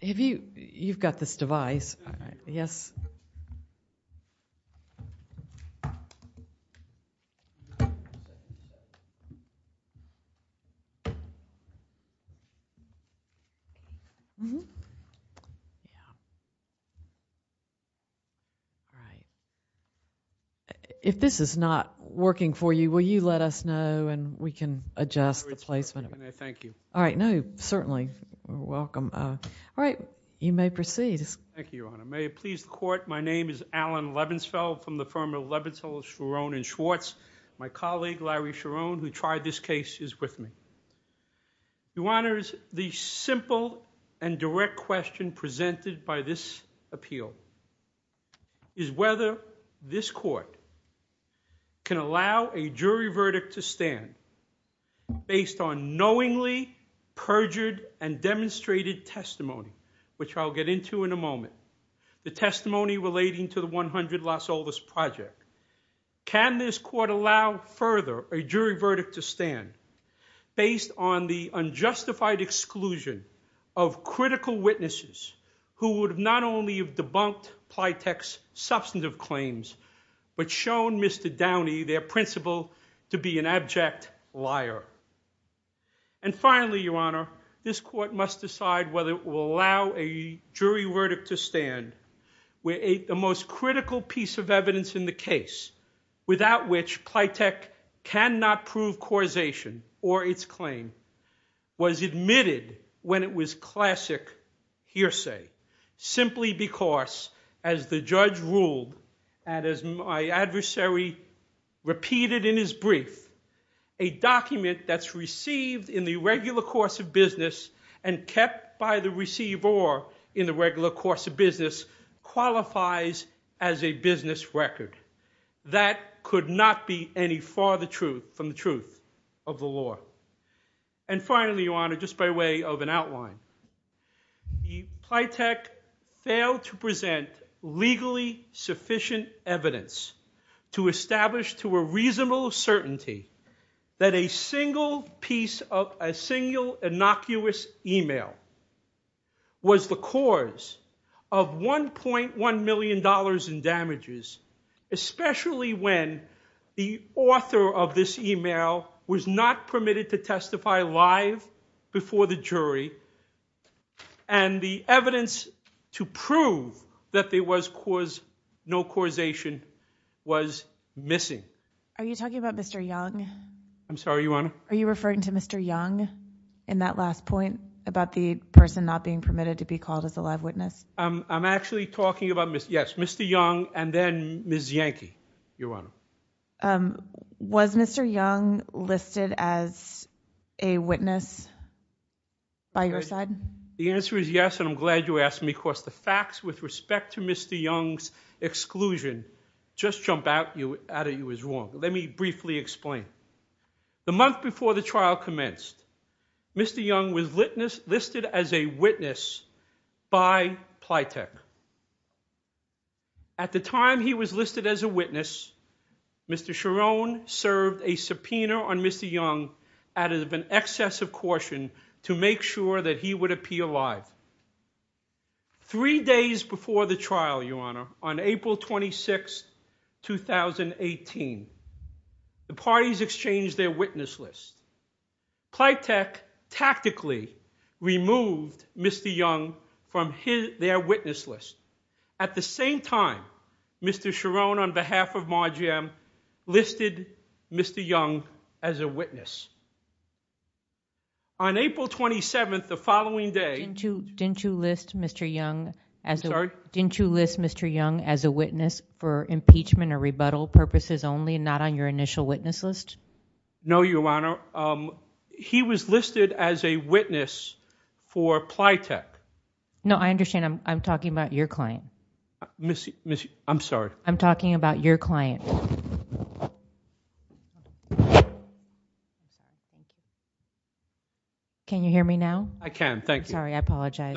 You've got this device. If this is not working for you, will you let us know and we can adjust the placement of it? Thank you. All right. No, certainly. Welcome. All right. You may proceed. Thank you, Your Honor. May it please the court, my name is Alan Lebensfeld from the firm of Lebensfeld, Schwerin, and Schwartz. My colleague, Larry Schwerin, who tried this case is with me. Your Honor, the simple and direct question presented by this appeal is whether this court can allow a jury verdict to stand based on knowingly perjured and demonstrated testimony, which I'll get into in a moment, the testimony relating to the 100 Las Olas Project. Can this court allow further a jury verdict to stand based on the unjustified exclusion of critical witnesses who would not only have debunked Pliteq's substantive claims, but shown Mr. Downey, their principal, to be an abject liar? And finally, Your Honor, this court must decide whether it will allow a jury verdict to stand where the most critical piece of evidence in the case, without which Pliteq cannot prove causation or its claim, was admitted when it was classic hearsay, simply because, as the judge ruled, and as my adversary repeated in his brief, a document that's received in the regular course of business and kept by the receiver in the regular course of business qualifies as a business record. That could not be any farther from the truth of the law. And finally, Your Honor, just by way of an outline, Pliteq failed to present legally sufficient evidence to establish to a reasonable certainty that a single piece of a single innocuous email was the cause of 1.1 million dollars in especially when the author of this email was not permitted to testify live before the jury and the evidence to prove that there was no causation was missing. Are you talking about Mr. Young? I'm sorry, Your Honor? Are you referring to Mr. Young in that last point about the person not being permitted to be called as a live witness? I'm actually talking about, yes, Mr. Young and then Ms. Yankee, Your Honor. Was Mr. Young listed as a witness by your side? The answer is yes and I'm glad you asked me because the facts with respect to Mr. Young's exclusion just jump out at you as wrong. Let me briefly explain. The month before the trial commenced, Mr. Young was listed as a witness. Mr. Cherone served a subpoena on Mr. Young out of an excess of caution to make sure that he would appear live. Three days before the trial, Your Honor, on April 26, 2018, the parties exchanged their witness list. Pliteq tactically removed Mr. Young from their witness list. At the same time, Mr. Cherone, on behalf of Marge M, listed Mr. Young as a witness. On April 27, the following day, didn't you list Mr. Young as a witness for impeachment or rebuttal purposes only and not on your initial witness list? No, Your Honor. He was listed as a witness for Pliteq. No, I understand. I'm talking about your client. I'm sorry. I'm talking about your client. Can you hear me now? I can. Thank you. Sorry, I apologize.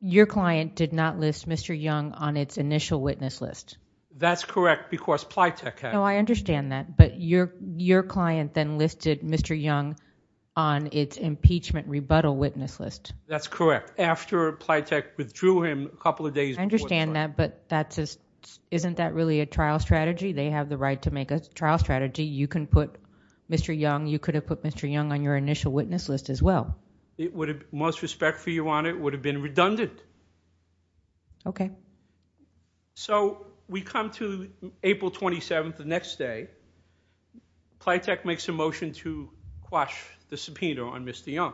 Your client did not list Mr. Young on its initial witness list. That's correct because Pliteq had. No, I understand that, but your client then listed Mr. Young on its impeachment rebuttal witness list. That's correct. After Pliteq withdrew him a couple of days before the trial. I understand that, but isn't that really a trial strategy? They have the right to make a trial strategy. You can put Mr. Young, you could have put Mr. Young on your initial witness list as well. It would have, most respect for you, it would have been redundant. Okay. So we come to April 27th, the next day, Pliteq makes a motion to quash the subpoena on Mr. Young.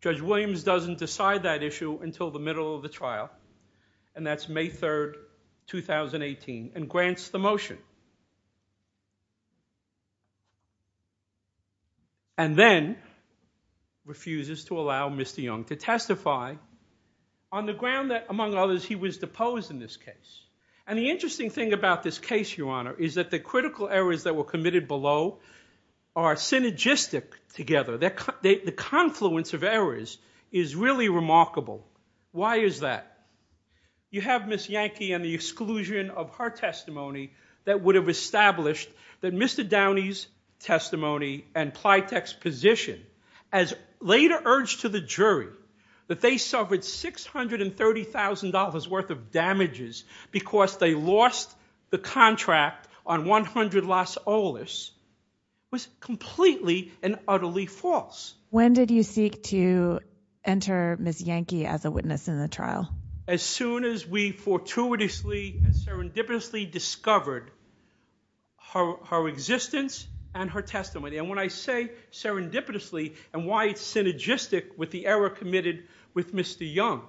Judge Williams doesn't decide that issue until the middle of the trial. You have Ms. Yankee and the exclusion of her testimony that would have established that Mr. Young is guilty. When did you seek to enter Ms. Yankee as a witness in the trial? As soon as we fortuitously and serendipitously discovered her existence and her testimony. And when I say serendipitously and why it's synergistic with the error committed with Mr. Young.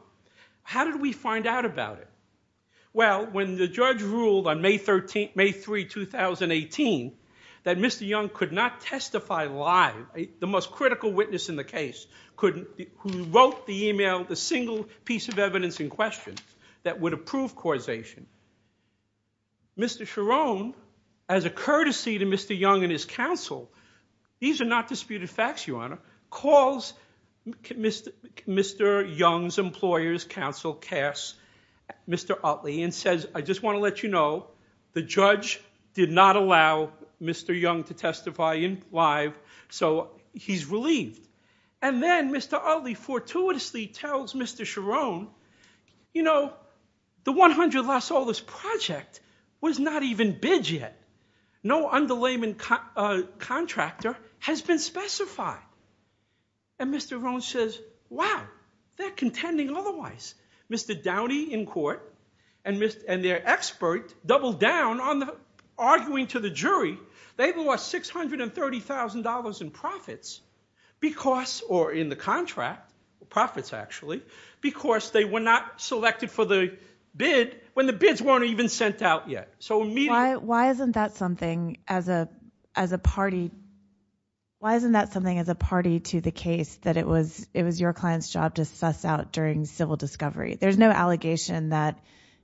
How did we find out about it? Well, when the judge ruled on May 3, 2018, that Mr. Young could not testify live, the most critical witness in the case, who wrote the email, the single piece of evidence in question that would have disputed facts, your Honor, calls Mr. Young's employer's counsel, Cass, Mr. Utley, and says, I just want to let you know, the judge did not allow Mr. Young to testify live, so he's relieved. And then Mr. Utley fortuitously tells Mr. Rohn, you know, the $100,000 project was not even bid yet. No underlayment contractor has been specified. And Mr. Rohn says, wow, they're contending otherwise. Mr. Downey in court and their expert doubled down on arguing to the jury, they lost $630,000 in profits because, or in the contract, profits actually, because they were not selected for the bid when the bids weren't even sent out yet. So why isn't that something as a, as a party, why isn't that something as a party to the case that it was, it was your client's job to suss out during civil discovery? There's no allegation that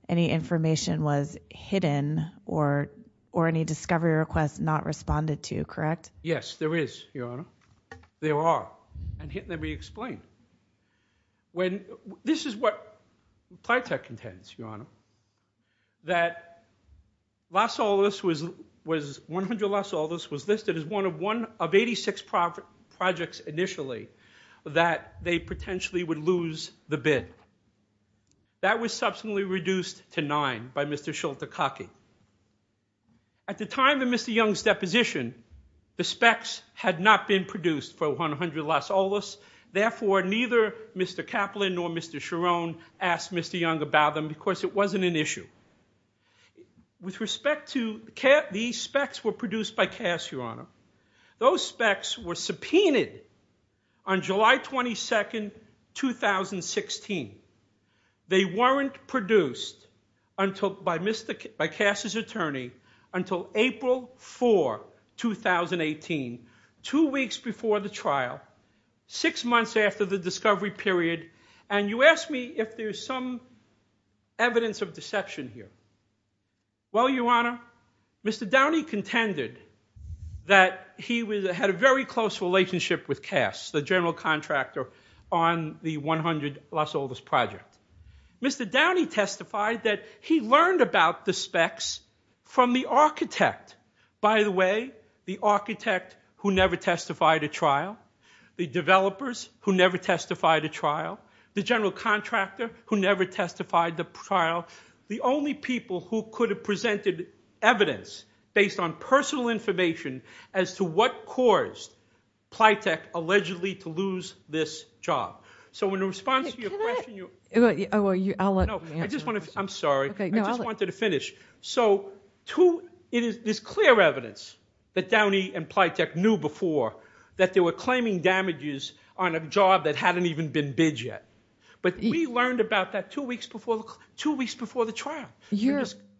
any information was hidden or, or any discovery requests not responded to, correct? Yes, there is, Your Honor. There are. And here, let me explain. When, this is what Plytec intends, Your Honor, that Las Olas was, was $100,000 was listed as one of one of 86 profit, projects initially that they potentially would lose the bid. That was subsequently reduced to nine by Mr. Schulte-Kacke. At the time of Mr. Young's deposition, the specs had not been produced for 100 Las Olas. Therefore, neither Mr. Kaplan nor Mr. Schirone asked Mr. Young about them because it wasn't an issue. With respect to, these specs were produced by Kass, Your Honor. Those specs were subpoenaed on July 22nd, 2016. They weren't produced until, by Mr., by Kass' attorney until April 4, 2018, two weeks before the trial, six months after the discovery period, and you ask me if there's some evidence of deception here. Well, Your Honor, Mr. Downey contended that he had a very close relationship with Kass, the general contractor on the 100 Las Olas project. Mr. Downey testified that he learned about the specs from the architect. By the way, the architect who never testified at trial, the developers who never testified at trial, the general contractor who never testified at trial, the only people who could have presented evidence based on personal information as to what caused Plytech allegedly to lose this job. So, in response to your question, I'm sorry, I just wanted to finish. So, there's clear evidence that Downey and Plytech knew before that they were claiming damages on a job that hadn't even been bid yet, but we learned about that two weeks before the trial.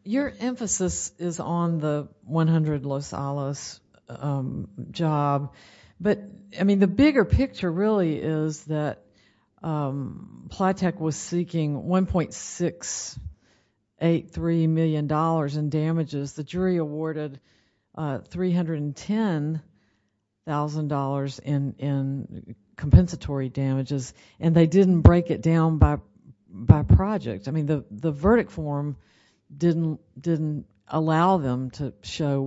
Your emphasis is on the 100 Las Olas job, but, I mean, the bigger picture really is that Plytech was seeking $1.683 million in damages. The jury awarded $310,000 in compensatory damages, and they didn't break it down by project. I mean, the verdict form didn't allow them to show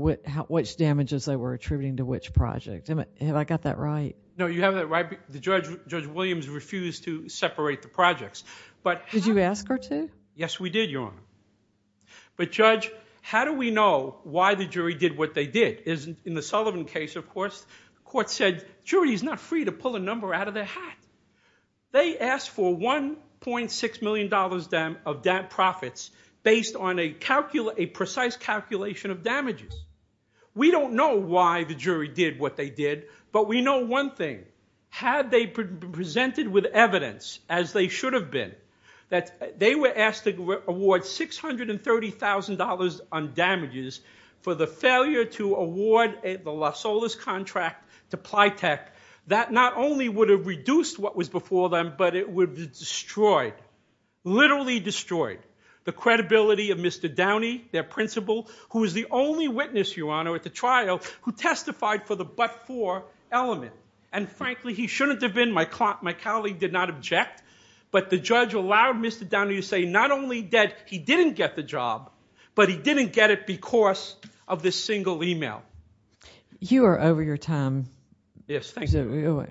which damages they were attributing to which project. Have I got that right? No, you have that right. Judge Williams refused to separate the projects. Did you ask her to? Yes, we did, Your Honor. But, Judge, how do we know why the jury did what they did? In the Sullivan case, of course, the court said, jury is not free to pull a number out of their hat. They asked for $1.6 million of profits based on a precise calculation of damages. We don't know why the jury did what they did, but we know one thing. Had they presented with evidence, as they should have been, that they were asked to award $630,000 on damages for the failure to award the Las Olas contract to Plytech, that not only would have reduced what was before them, but it would have destroyed, literally destroyed, the credibility of Mr. Downey, their principal, who was the only witness, Your Honor, at the trial who testified for the but-for element. And frankly, he shouldn't have been. My colleague did not object, but the judge allowed Mr. Downey to say not only that he didn't get the job, but he didn't get it because of this single email. You are over your time. Yes, thank you.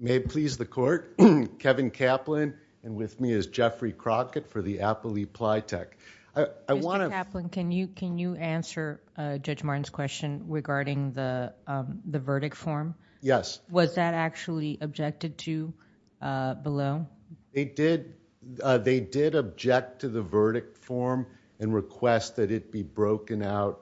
May it please the court, Kevin Kaplan, and with me is Jeffrey Crockett for the Appley Plytech. Mr. Kaplan, can you answer Judge Martin's question regarding the verdict form? Yes. Was that actually objected to below? They did object to the verdict form and request that it be broken out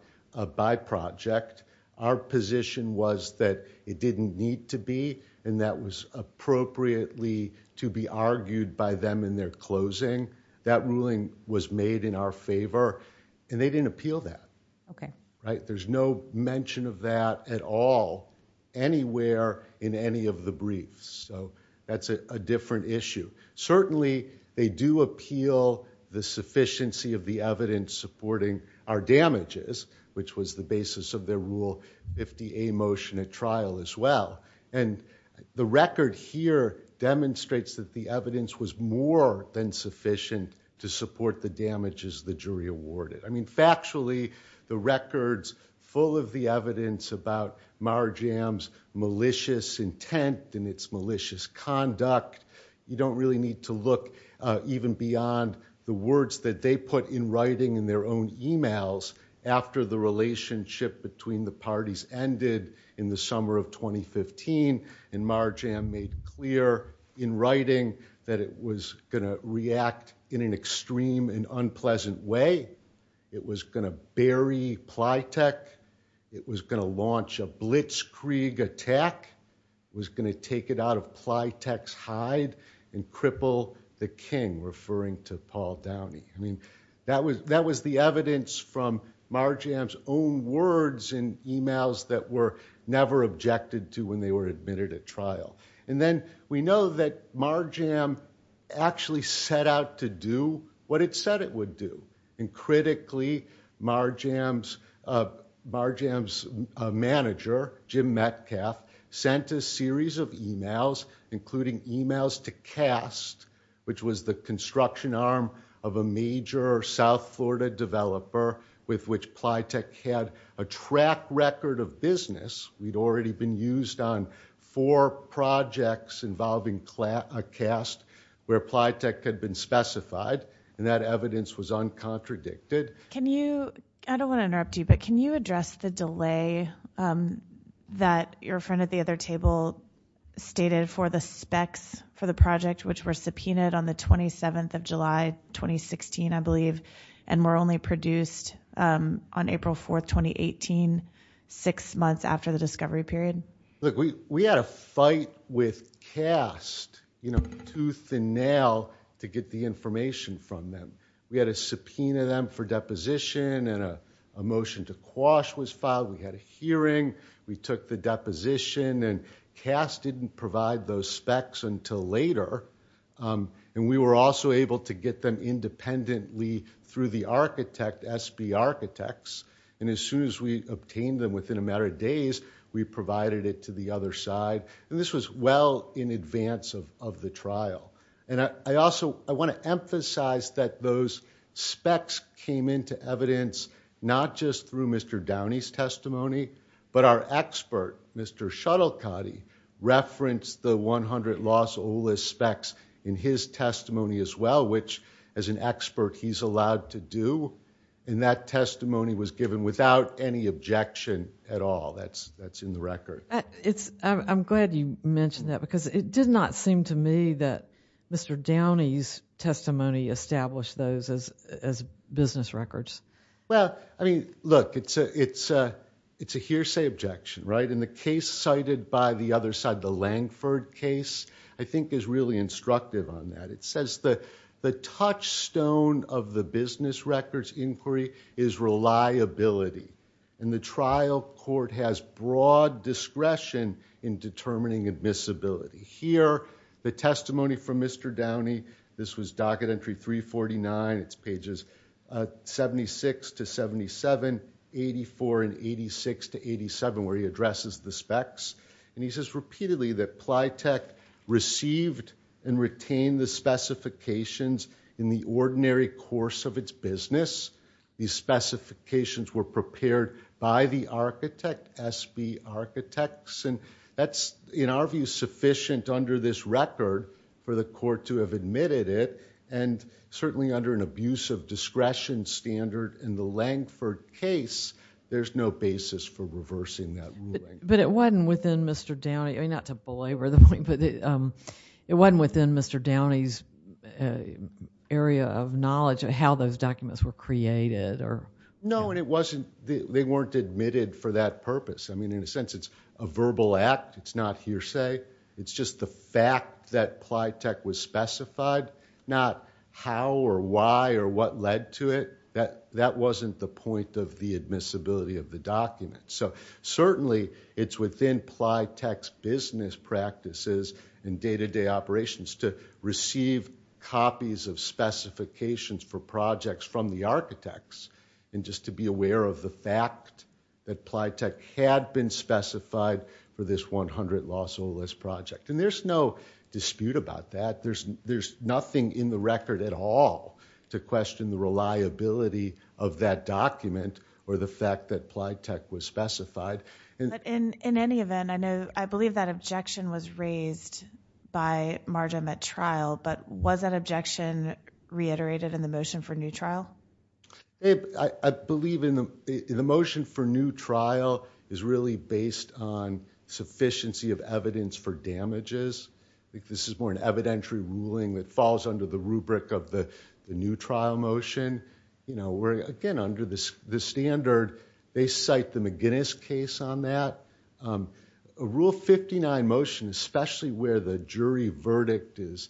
by project. Our position was that it didn't need to be, and that was appropriately to be argued by them in their closing. That ruling was made in our favor, and they didn't appeal that. Okay. There's no mention of that at all anywhere in any of the briefs, so that's a different issue. Certainly, they do appeal the sufficiency of the evidence supporting our damages, which was the basis of their Rule 50A motion at trial as well. The record here demonstrates that the evidence was more than sufficient to support the damages the jury awarded. Factually, the record's full of the evidence about Marjam's malicious intent and its malicious conduct. You don't really need to look even beyond the words that they put in writing in their own emails after the relationship between the parties ended in the summer of 2015. Marjam made clear in writing that it was going to react in an extreme and unpleasant way. It was going to bury Pleitech. It was going to launch a blitzkrieg attack. It was going to take it out of Pleitech's hide and cripple the king, referring to Paul Downey. That was the evidence from Marjam's own words in emails that were never objected to when they were admitted at trial. Then, we know that Marjam actually set out to do what it said it would do. Critically, Marjam's manager, Jim Metcalfe, sent a series of emails, including emails to CAST, which was the construction arm of a major South Florida developer with which Pleitech had a track record of business. We'd already been used on four projects involving CAST where Pleitech had been specified. That evidence was uncontradicted. I don't want to interrupt you, but can you address the delay that your friend at the other table stated for the specs for the project, which were subpoenaed on the 27th of July 2016, I believe, and were only produced on April 4th, 2018, six months after the discovery period? Look, we had a fight with CAST tooth and nail to get the information from them. We had a subpoena them for deposition, and a motion to quash was filed. We had a hearing. We took the deposition, and CAST didn't provide those specs until later. We were also able to get them independently through the architect, SB Architects, and as soon as we obtained them within a matter of days, we provided it to the other side. And this was well in advance of the trial. And I also want to emphasize that those specs came into evidence not just through Mr. Downey's testimony, but our expert, Mr. Shuttlecotty, referenced the 100 loss OLS specs in his testimony as well, which, as an expert, he's allowed to do. And that testimony was given without any objection at all. That's in the record. I'm glad you mentioned that, because it did not seem to me that Mr. Downey's testimony established those as business records. Well, I mean, look, it's a hearsay objection, right? And the case cited by the other side, the Langford case, I think is really instructive on that. It says the touchstone of the business records inquiry is reliability, and the trial court has broad discretion in determining admissibility. Here, the testimony from Mr. Downey, this was docket entry 349. It's pages 76 to 77, 84 and 86 to 87, where he addresses the specs. And he says repeatedly that Plytech received and retained the specifications in the ordinary course of its business. These specifications were prepared by the architect, SB Architects, and that's, in our view, sufficient under this record for the court to have admitted it, and certainly under an abuse of discretion standard in the Langford case, there's no basis for reversing that ruling. But it wasn't within Mr. Downey, not to belabor the point, but it wasn't within Mr. Downey's area of knowledge of how those documents were created? No, and it wasn't, they weren't admitted for that purpose. I mean, in a sense, it's a verbal act. It's not hearsay. It's just the fact that Plytech was specified, not how or why or what led to it. That wasn't the point of the admissibility of the document. So certainly it's within Plytech's business practices and day-to-day operations to receive copies of specifications for projects from the architects and just to be aware of the fact that Plytech had been specified for this 100 loss or less project. And there's no dispute about that. There's nothing in the record at all to question the reliability of that document or the fact that Plytech was specified. But in any event, I believe that objection was raised by Marja at trial, but was that objection reiterated in the motion for new trial? I believe in the motion for new trial is really based on sufficiency of evidence for damages. This is more an evidentiary ruling that falls under the rubric of the new trial motion. Again, under the standard, they cite the McGuinness case on that. A Rule 59 motion, especially where the jury verdict is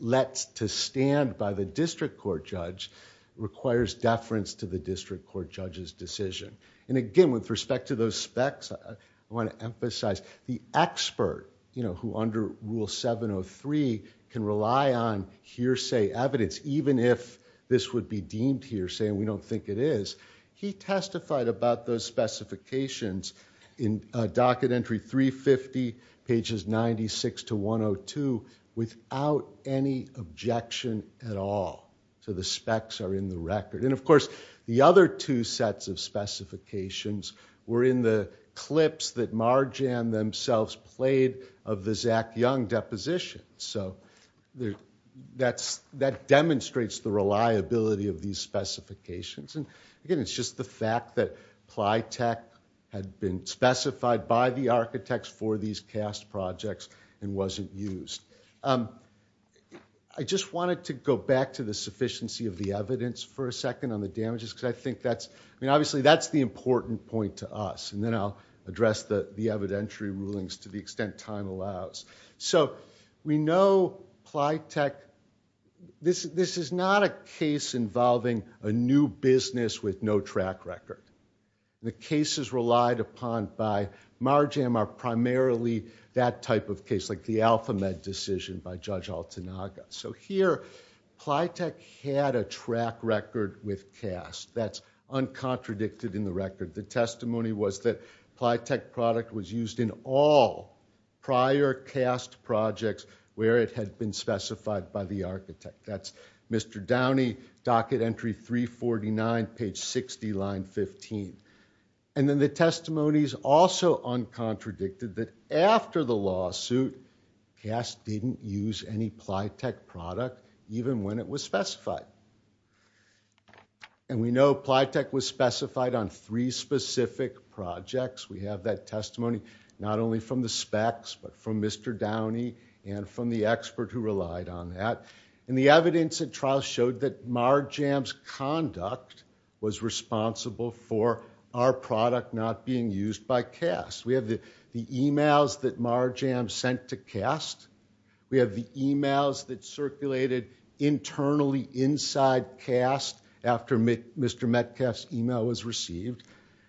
let to stand by the district court judge, requires deference to the district court judge's decision. And again, with respect to those specs, I want to emphasize the expert who under Rule 703 can rely on hearsay evidence, even if this would be deemed hearsay and we don't think it is. He testified about those specifications in Docket Entry 350, pages 96 to 102, without any objection at all. So the specs are in the record. And of course, the other two sets of specifications were in the clips that Marja and themselves played of the Zach Young deposition. So that demonstrates the reliability of these specifications. And again, it's just the fact that PLYTEC had been specified by the architects for these CAST projects and wasn't used. I just wanted to go back to the sufficiency of the evidence for a second on the damages, because I think that's, I mean, obviously that's the important point to us. And then I'll address the evidentiary rulings to the extent time allows. So we know PLYTEC, this is not a case involving a new business with no track record. The cases relied upon by Marjam are primarily that type of case, like the AlphaMed decision by Judge Altanaga. So here, PLYTEC had a track record with CAST. That's uncontradicted in the record. The testimony was that PLYTEC product was used in all prior CAST projects where it had been specified by the architect. That's Mr. Downey, docket entry 349, page 60, line 15. And then the testimony is also uncontradicted that after the lawsuit, CAST didn't use any PLYTEC product, even when it was specified. And we know PLYTEC was specified on three specific projects. We have that testimony not only from the specs, but from Mr. Downey and from the expert who relied on that. And the evidence at trial showed that Marjam's conduct was responsible for our product not being used by CAST. We have the emails that Marjam sent to CAST. We have the emails that circulated internally inside CAST after Mr. Metcalf's email was received.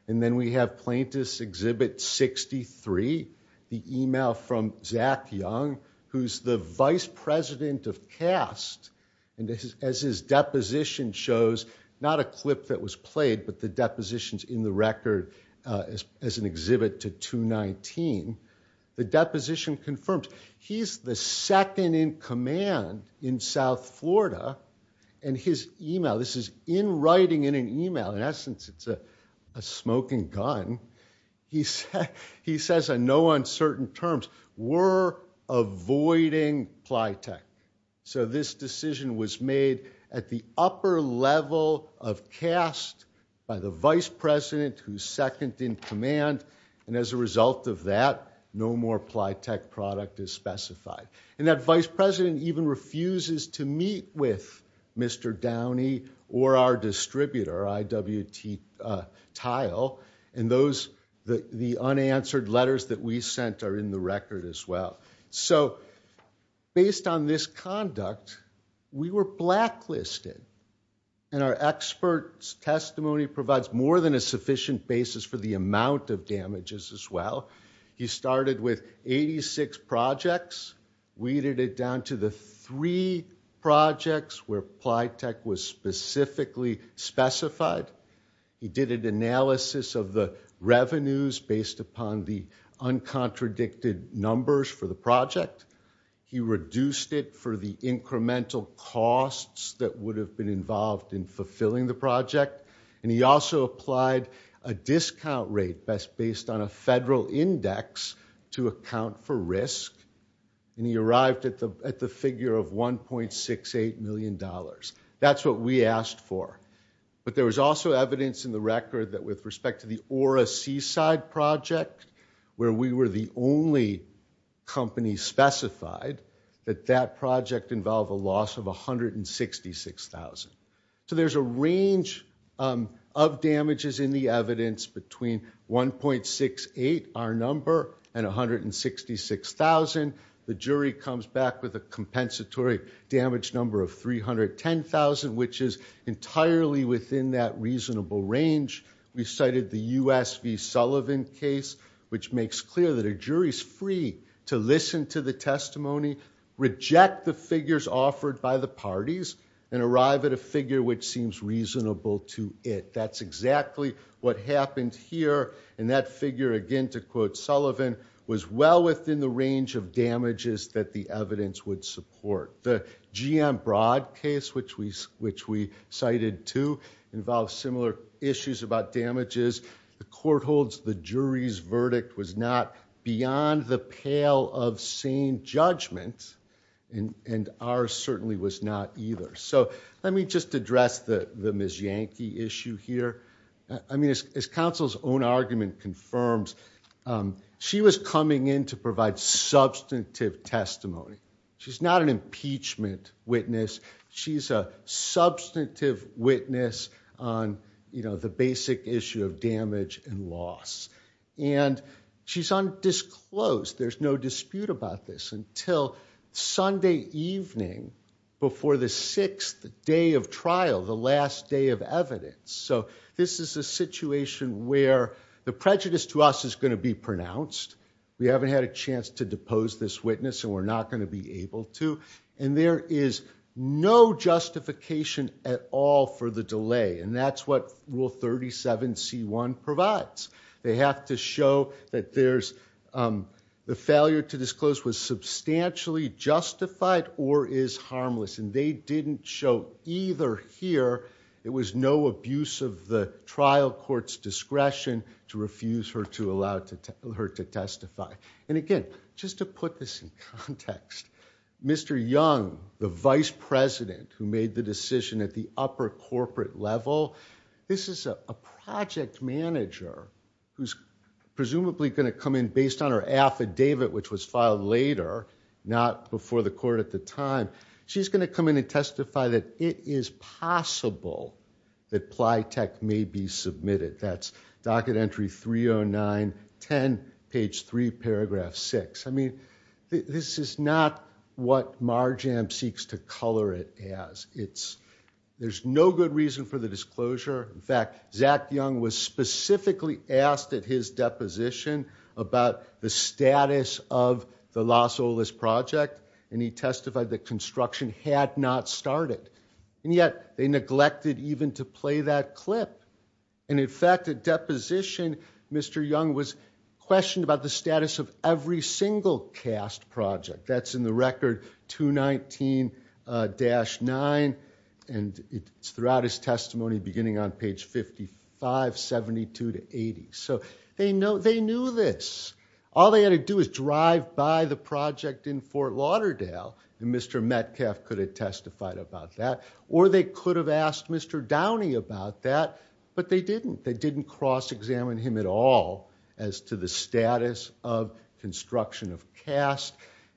And then we have Plaintiff's Exhibit 63, the email from Zach Young, who's the vice president of CAST. And as his deposition shows, not a clip that was played, but the depositions in the record as an exhibit to 219, the deposition confirms he's the second in command in South Florida. And his email, this is in writing in an email, in essence it's a smoking gun. He says on no uncertain terms, we're avoiding PLYTEC. So this decision was made at the upper level of CAST by the vice president who's second in command. And as a result of that, no more PLYTEC product is specified. And that vice president even refuses to meet with Mr. Downey or our distributor, IWT Tile. And the unanswered letters that we sent are in the record as well. So based on this conduct, we were blacklisted. And our expert's testimony provides more than a sufficient basis for the amount of damages as well. He started with 86 projects, weeded it down to the three projects where PLYTEC was specifically specified. He did an analysis of the revenues based upon the uncontradicted numbers for the project. He reduced it for the incremental costs that would have been involved in fulfilling the project. And he also applied a discount rate based on a federal index to account for risk. And he arrived at the figure of $1.68 million. That's what we asked for. But there was also evidence in the record that with respect to the Aura Seaside project, where we were the only company specified, that that project involved a loss of $166,000. So there's a range of damages in the evidence between 1.68, our number, and $166,000. The jury comes back with a compensatory damage number of $310,000, which is entirely within that reasonable range. We cited the US v. Sullivan case, which makes clear that a jury's free to listen to the testimony, reject the figures offered by the parties, and arrive at a figure which seems reasonable to it. That's exactly what happened here. And that figure, again, to quote Sullivan, was well within the range of damages that the evidence would support. The GM Broad case, which we cited too, involves similar issues about damages. The court holds the jury's verdict was not beyond the pale of sane judgment, and ours certainly was not either. So let me just address the Ms. Yankee issue here. I mean, as counsel's own argument confirms, she was coming in to provide substantive testimony. She's not an impeachment witness. She's a substantive witness on the basic issue of damage and loss. And she's undisclosed. There's no dispute about this until Sunday evening, before the sixth day of trial, the last day of evidence. So this is a situation where the prejudice to us is going to be pronounced. We haven't had a chance to depose this witness, and we're not going to be able to. And there is no justification at all for the delay. And that's what Rule 37C1 provides. They have to show that the failure to disclose was substantially justified or is harmless. And they didn't show either here. It was no abuse of the trial court's discretion to refuse her to allow her to testify. And again, just to put this in context, Mr. Young, the vice president who made the decision at the upper corporate level, this is a project manager who's presumably going to come in based on her affidavit, which was filed later, not before the court at the time. She's going to come in and testify that it is possible that Plytech may be submitted. That's docket entry 30910, page 3, paragraph 6. I mean, this is not what Marjam seeks to color it as. There's no good reason for the disclosure. In fact, Zach Young was specifically asked at his deposition about the status of the Los Olas project, and he testified that construction had not started. And yet, they neglected even to play that clip. And in fact, at deposition, Mr. Young was questioned about the status of every single cast project. That's in the record 219-9, and it's throughout his testimony, beginning on page 55, 72 to 80. So they knew this. All they had to do is drive by the project in Fort Lauderdale, and Mr. Metcalf could have testified about that, or they could have asked Mr. Downey about that, but they didn't. They didn't cross-examine him at all as to the status of construction of cast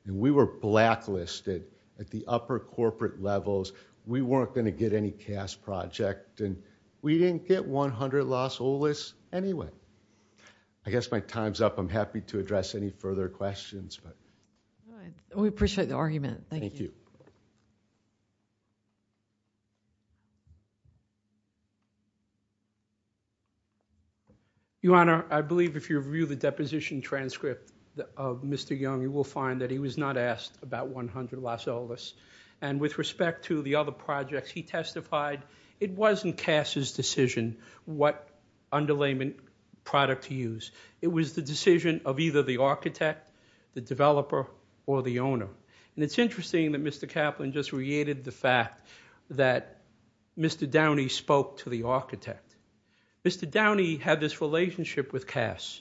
and we were blacklisted at the upper corporate levels. We weren't going to get any cast project, and we didn't get 100 Los Olas anyway. I guess my time's up. I'm happy to address any further questions. We appreciate the argument. Thank you. Thank you. Your Honor, I believe if you review the deposition transcript of Mr. Young, you will find that he was not asked about 100 Los Olas, and with respect to the other projects he testified, it wasn't Cass' decision what underlayment product to use. It was the decision of either the architect, the developer, or the owner. And it's interesting that Mr. Kaplan just reiterated the fact that Mr. Downey spoke to the architect. Mr. Downey had this relationship with Cass.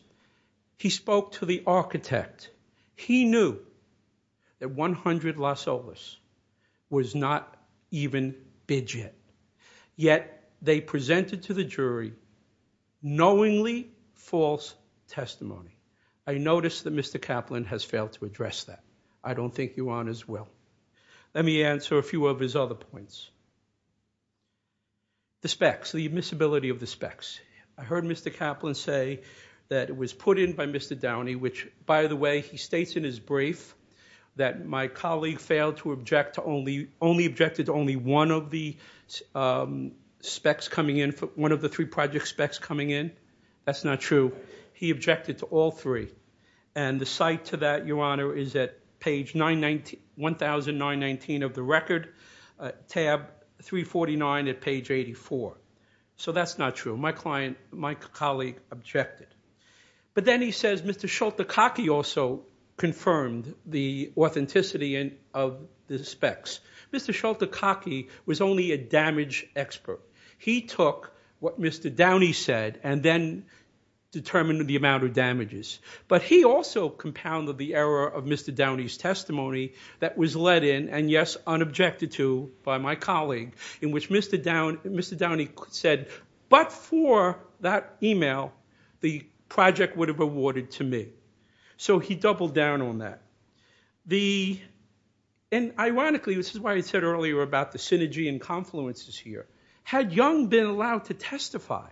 He spoke to the architect. He knew that 100 Los Olas was not even bid yet, yet they presented to the jury knowingly false testimony. I notice that Mr. Kaplan has failed to address that. I don't think you are as well. Let me answer a few of his other points. The specs, the admissibility of the specs. I heard Mr. Kaplan say that it was put in by Mr. Downey, which, by the way, he states in his brief that my colleague failed to object to only one of the specs coming in, one of the three project specs coming in. That's not true. He objected to all three. And the site to that, Your Honor, is at page 1,919 of the record, tab 349 at page 84. So that's not true. My colleague objected. But then he says Mr. Schultekacki also confirmed the authenticity of the specs. Mr. Schultekacki was only a damage expert. He took what Mr. Downey said and then determined the amount of damages. But he also compounded the error of Mr. Downey's testimony that was let in and, yes, unobjected to by my colleague, in which Mr. Downey said, but for that email, the project would have awarded to me. So he doubled down on that. And ironically, this is why I said earlier about the synergy and confluences here, had Young been allowed to testify,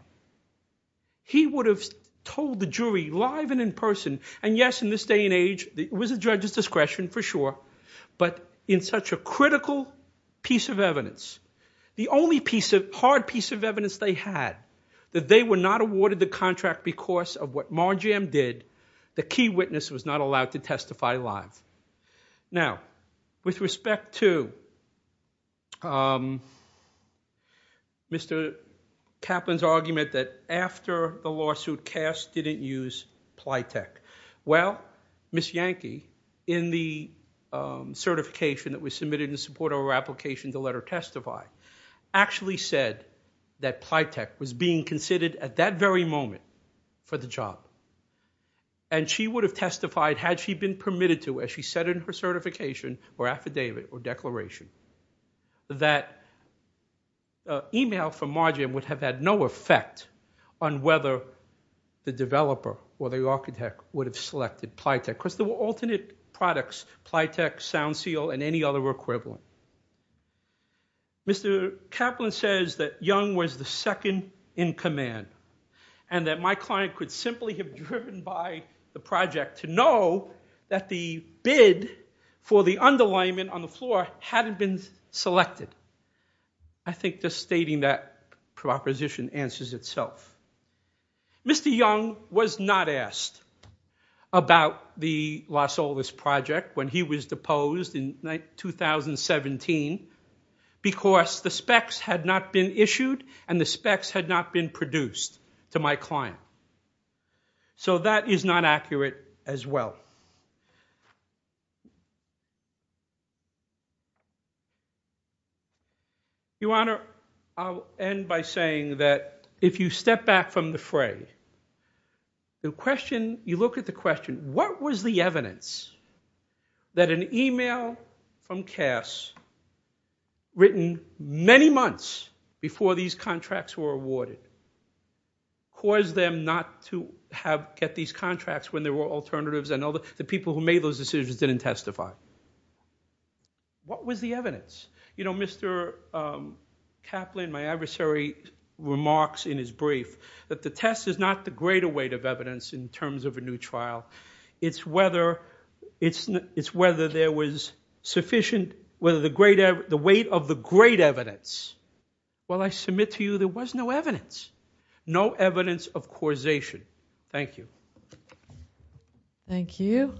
he would have told the jury live and in person, and, yes, in this day and age, it was at the judge's discretion for sure, but in such a critical piece of evidence. The only hard piece of evidence they had, that they were not awarded the contract because of what Marjam did, the key witness was not allowed to testify live. Now, with respect to... ..Mr. Kaplan's argument that after the lawsuit, Cass didn't use Plytech. Well, Ms. Yankee, in the certification that was submitted in support of her application to let her testify, actually said that Plytech was being considered at that very moment for the job. And she would have testified, had she been permitted to, as she said in her certification or affidavit or declaration, that email from Marjam would have had no effect on whether the developer or the architect would have selected Plytech. Of course, there were alternate products. Plytech, SoundSeal, and any other were equivalent. Mr. Kaplan says that Young was the second in command and that my client could simply have driven by the project to know that the bid for the underlayment on the floor hadn't been selected. I think just stating that proposition answers itself. Mr. Young was not asked about the Los Olis project when he was deposed in 2017 because the specs had not been issued and the specs had not been produced to my client. So that is not accurate as well. Your Honor, I'll end by saying that if you step back from the fray, you look at the question, what was the evidence that an email from Cass written many months before these contracts were awarded caused them not to get these contracts when there were alternatives and the people who made those decisions didn't testify? What was the evidence? You know, Mr. Kaplan, my adversary remarks in his brief that the test is not the greater weight of evidence in terms of a new trial. It's whether there was sufficient... the weight of the great evidence. Well, I submit to you there was no evidence. No evidence of causation. Thank you. Thank you.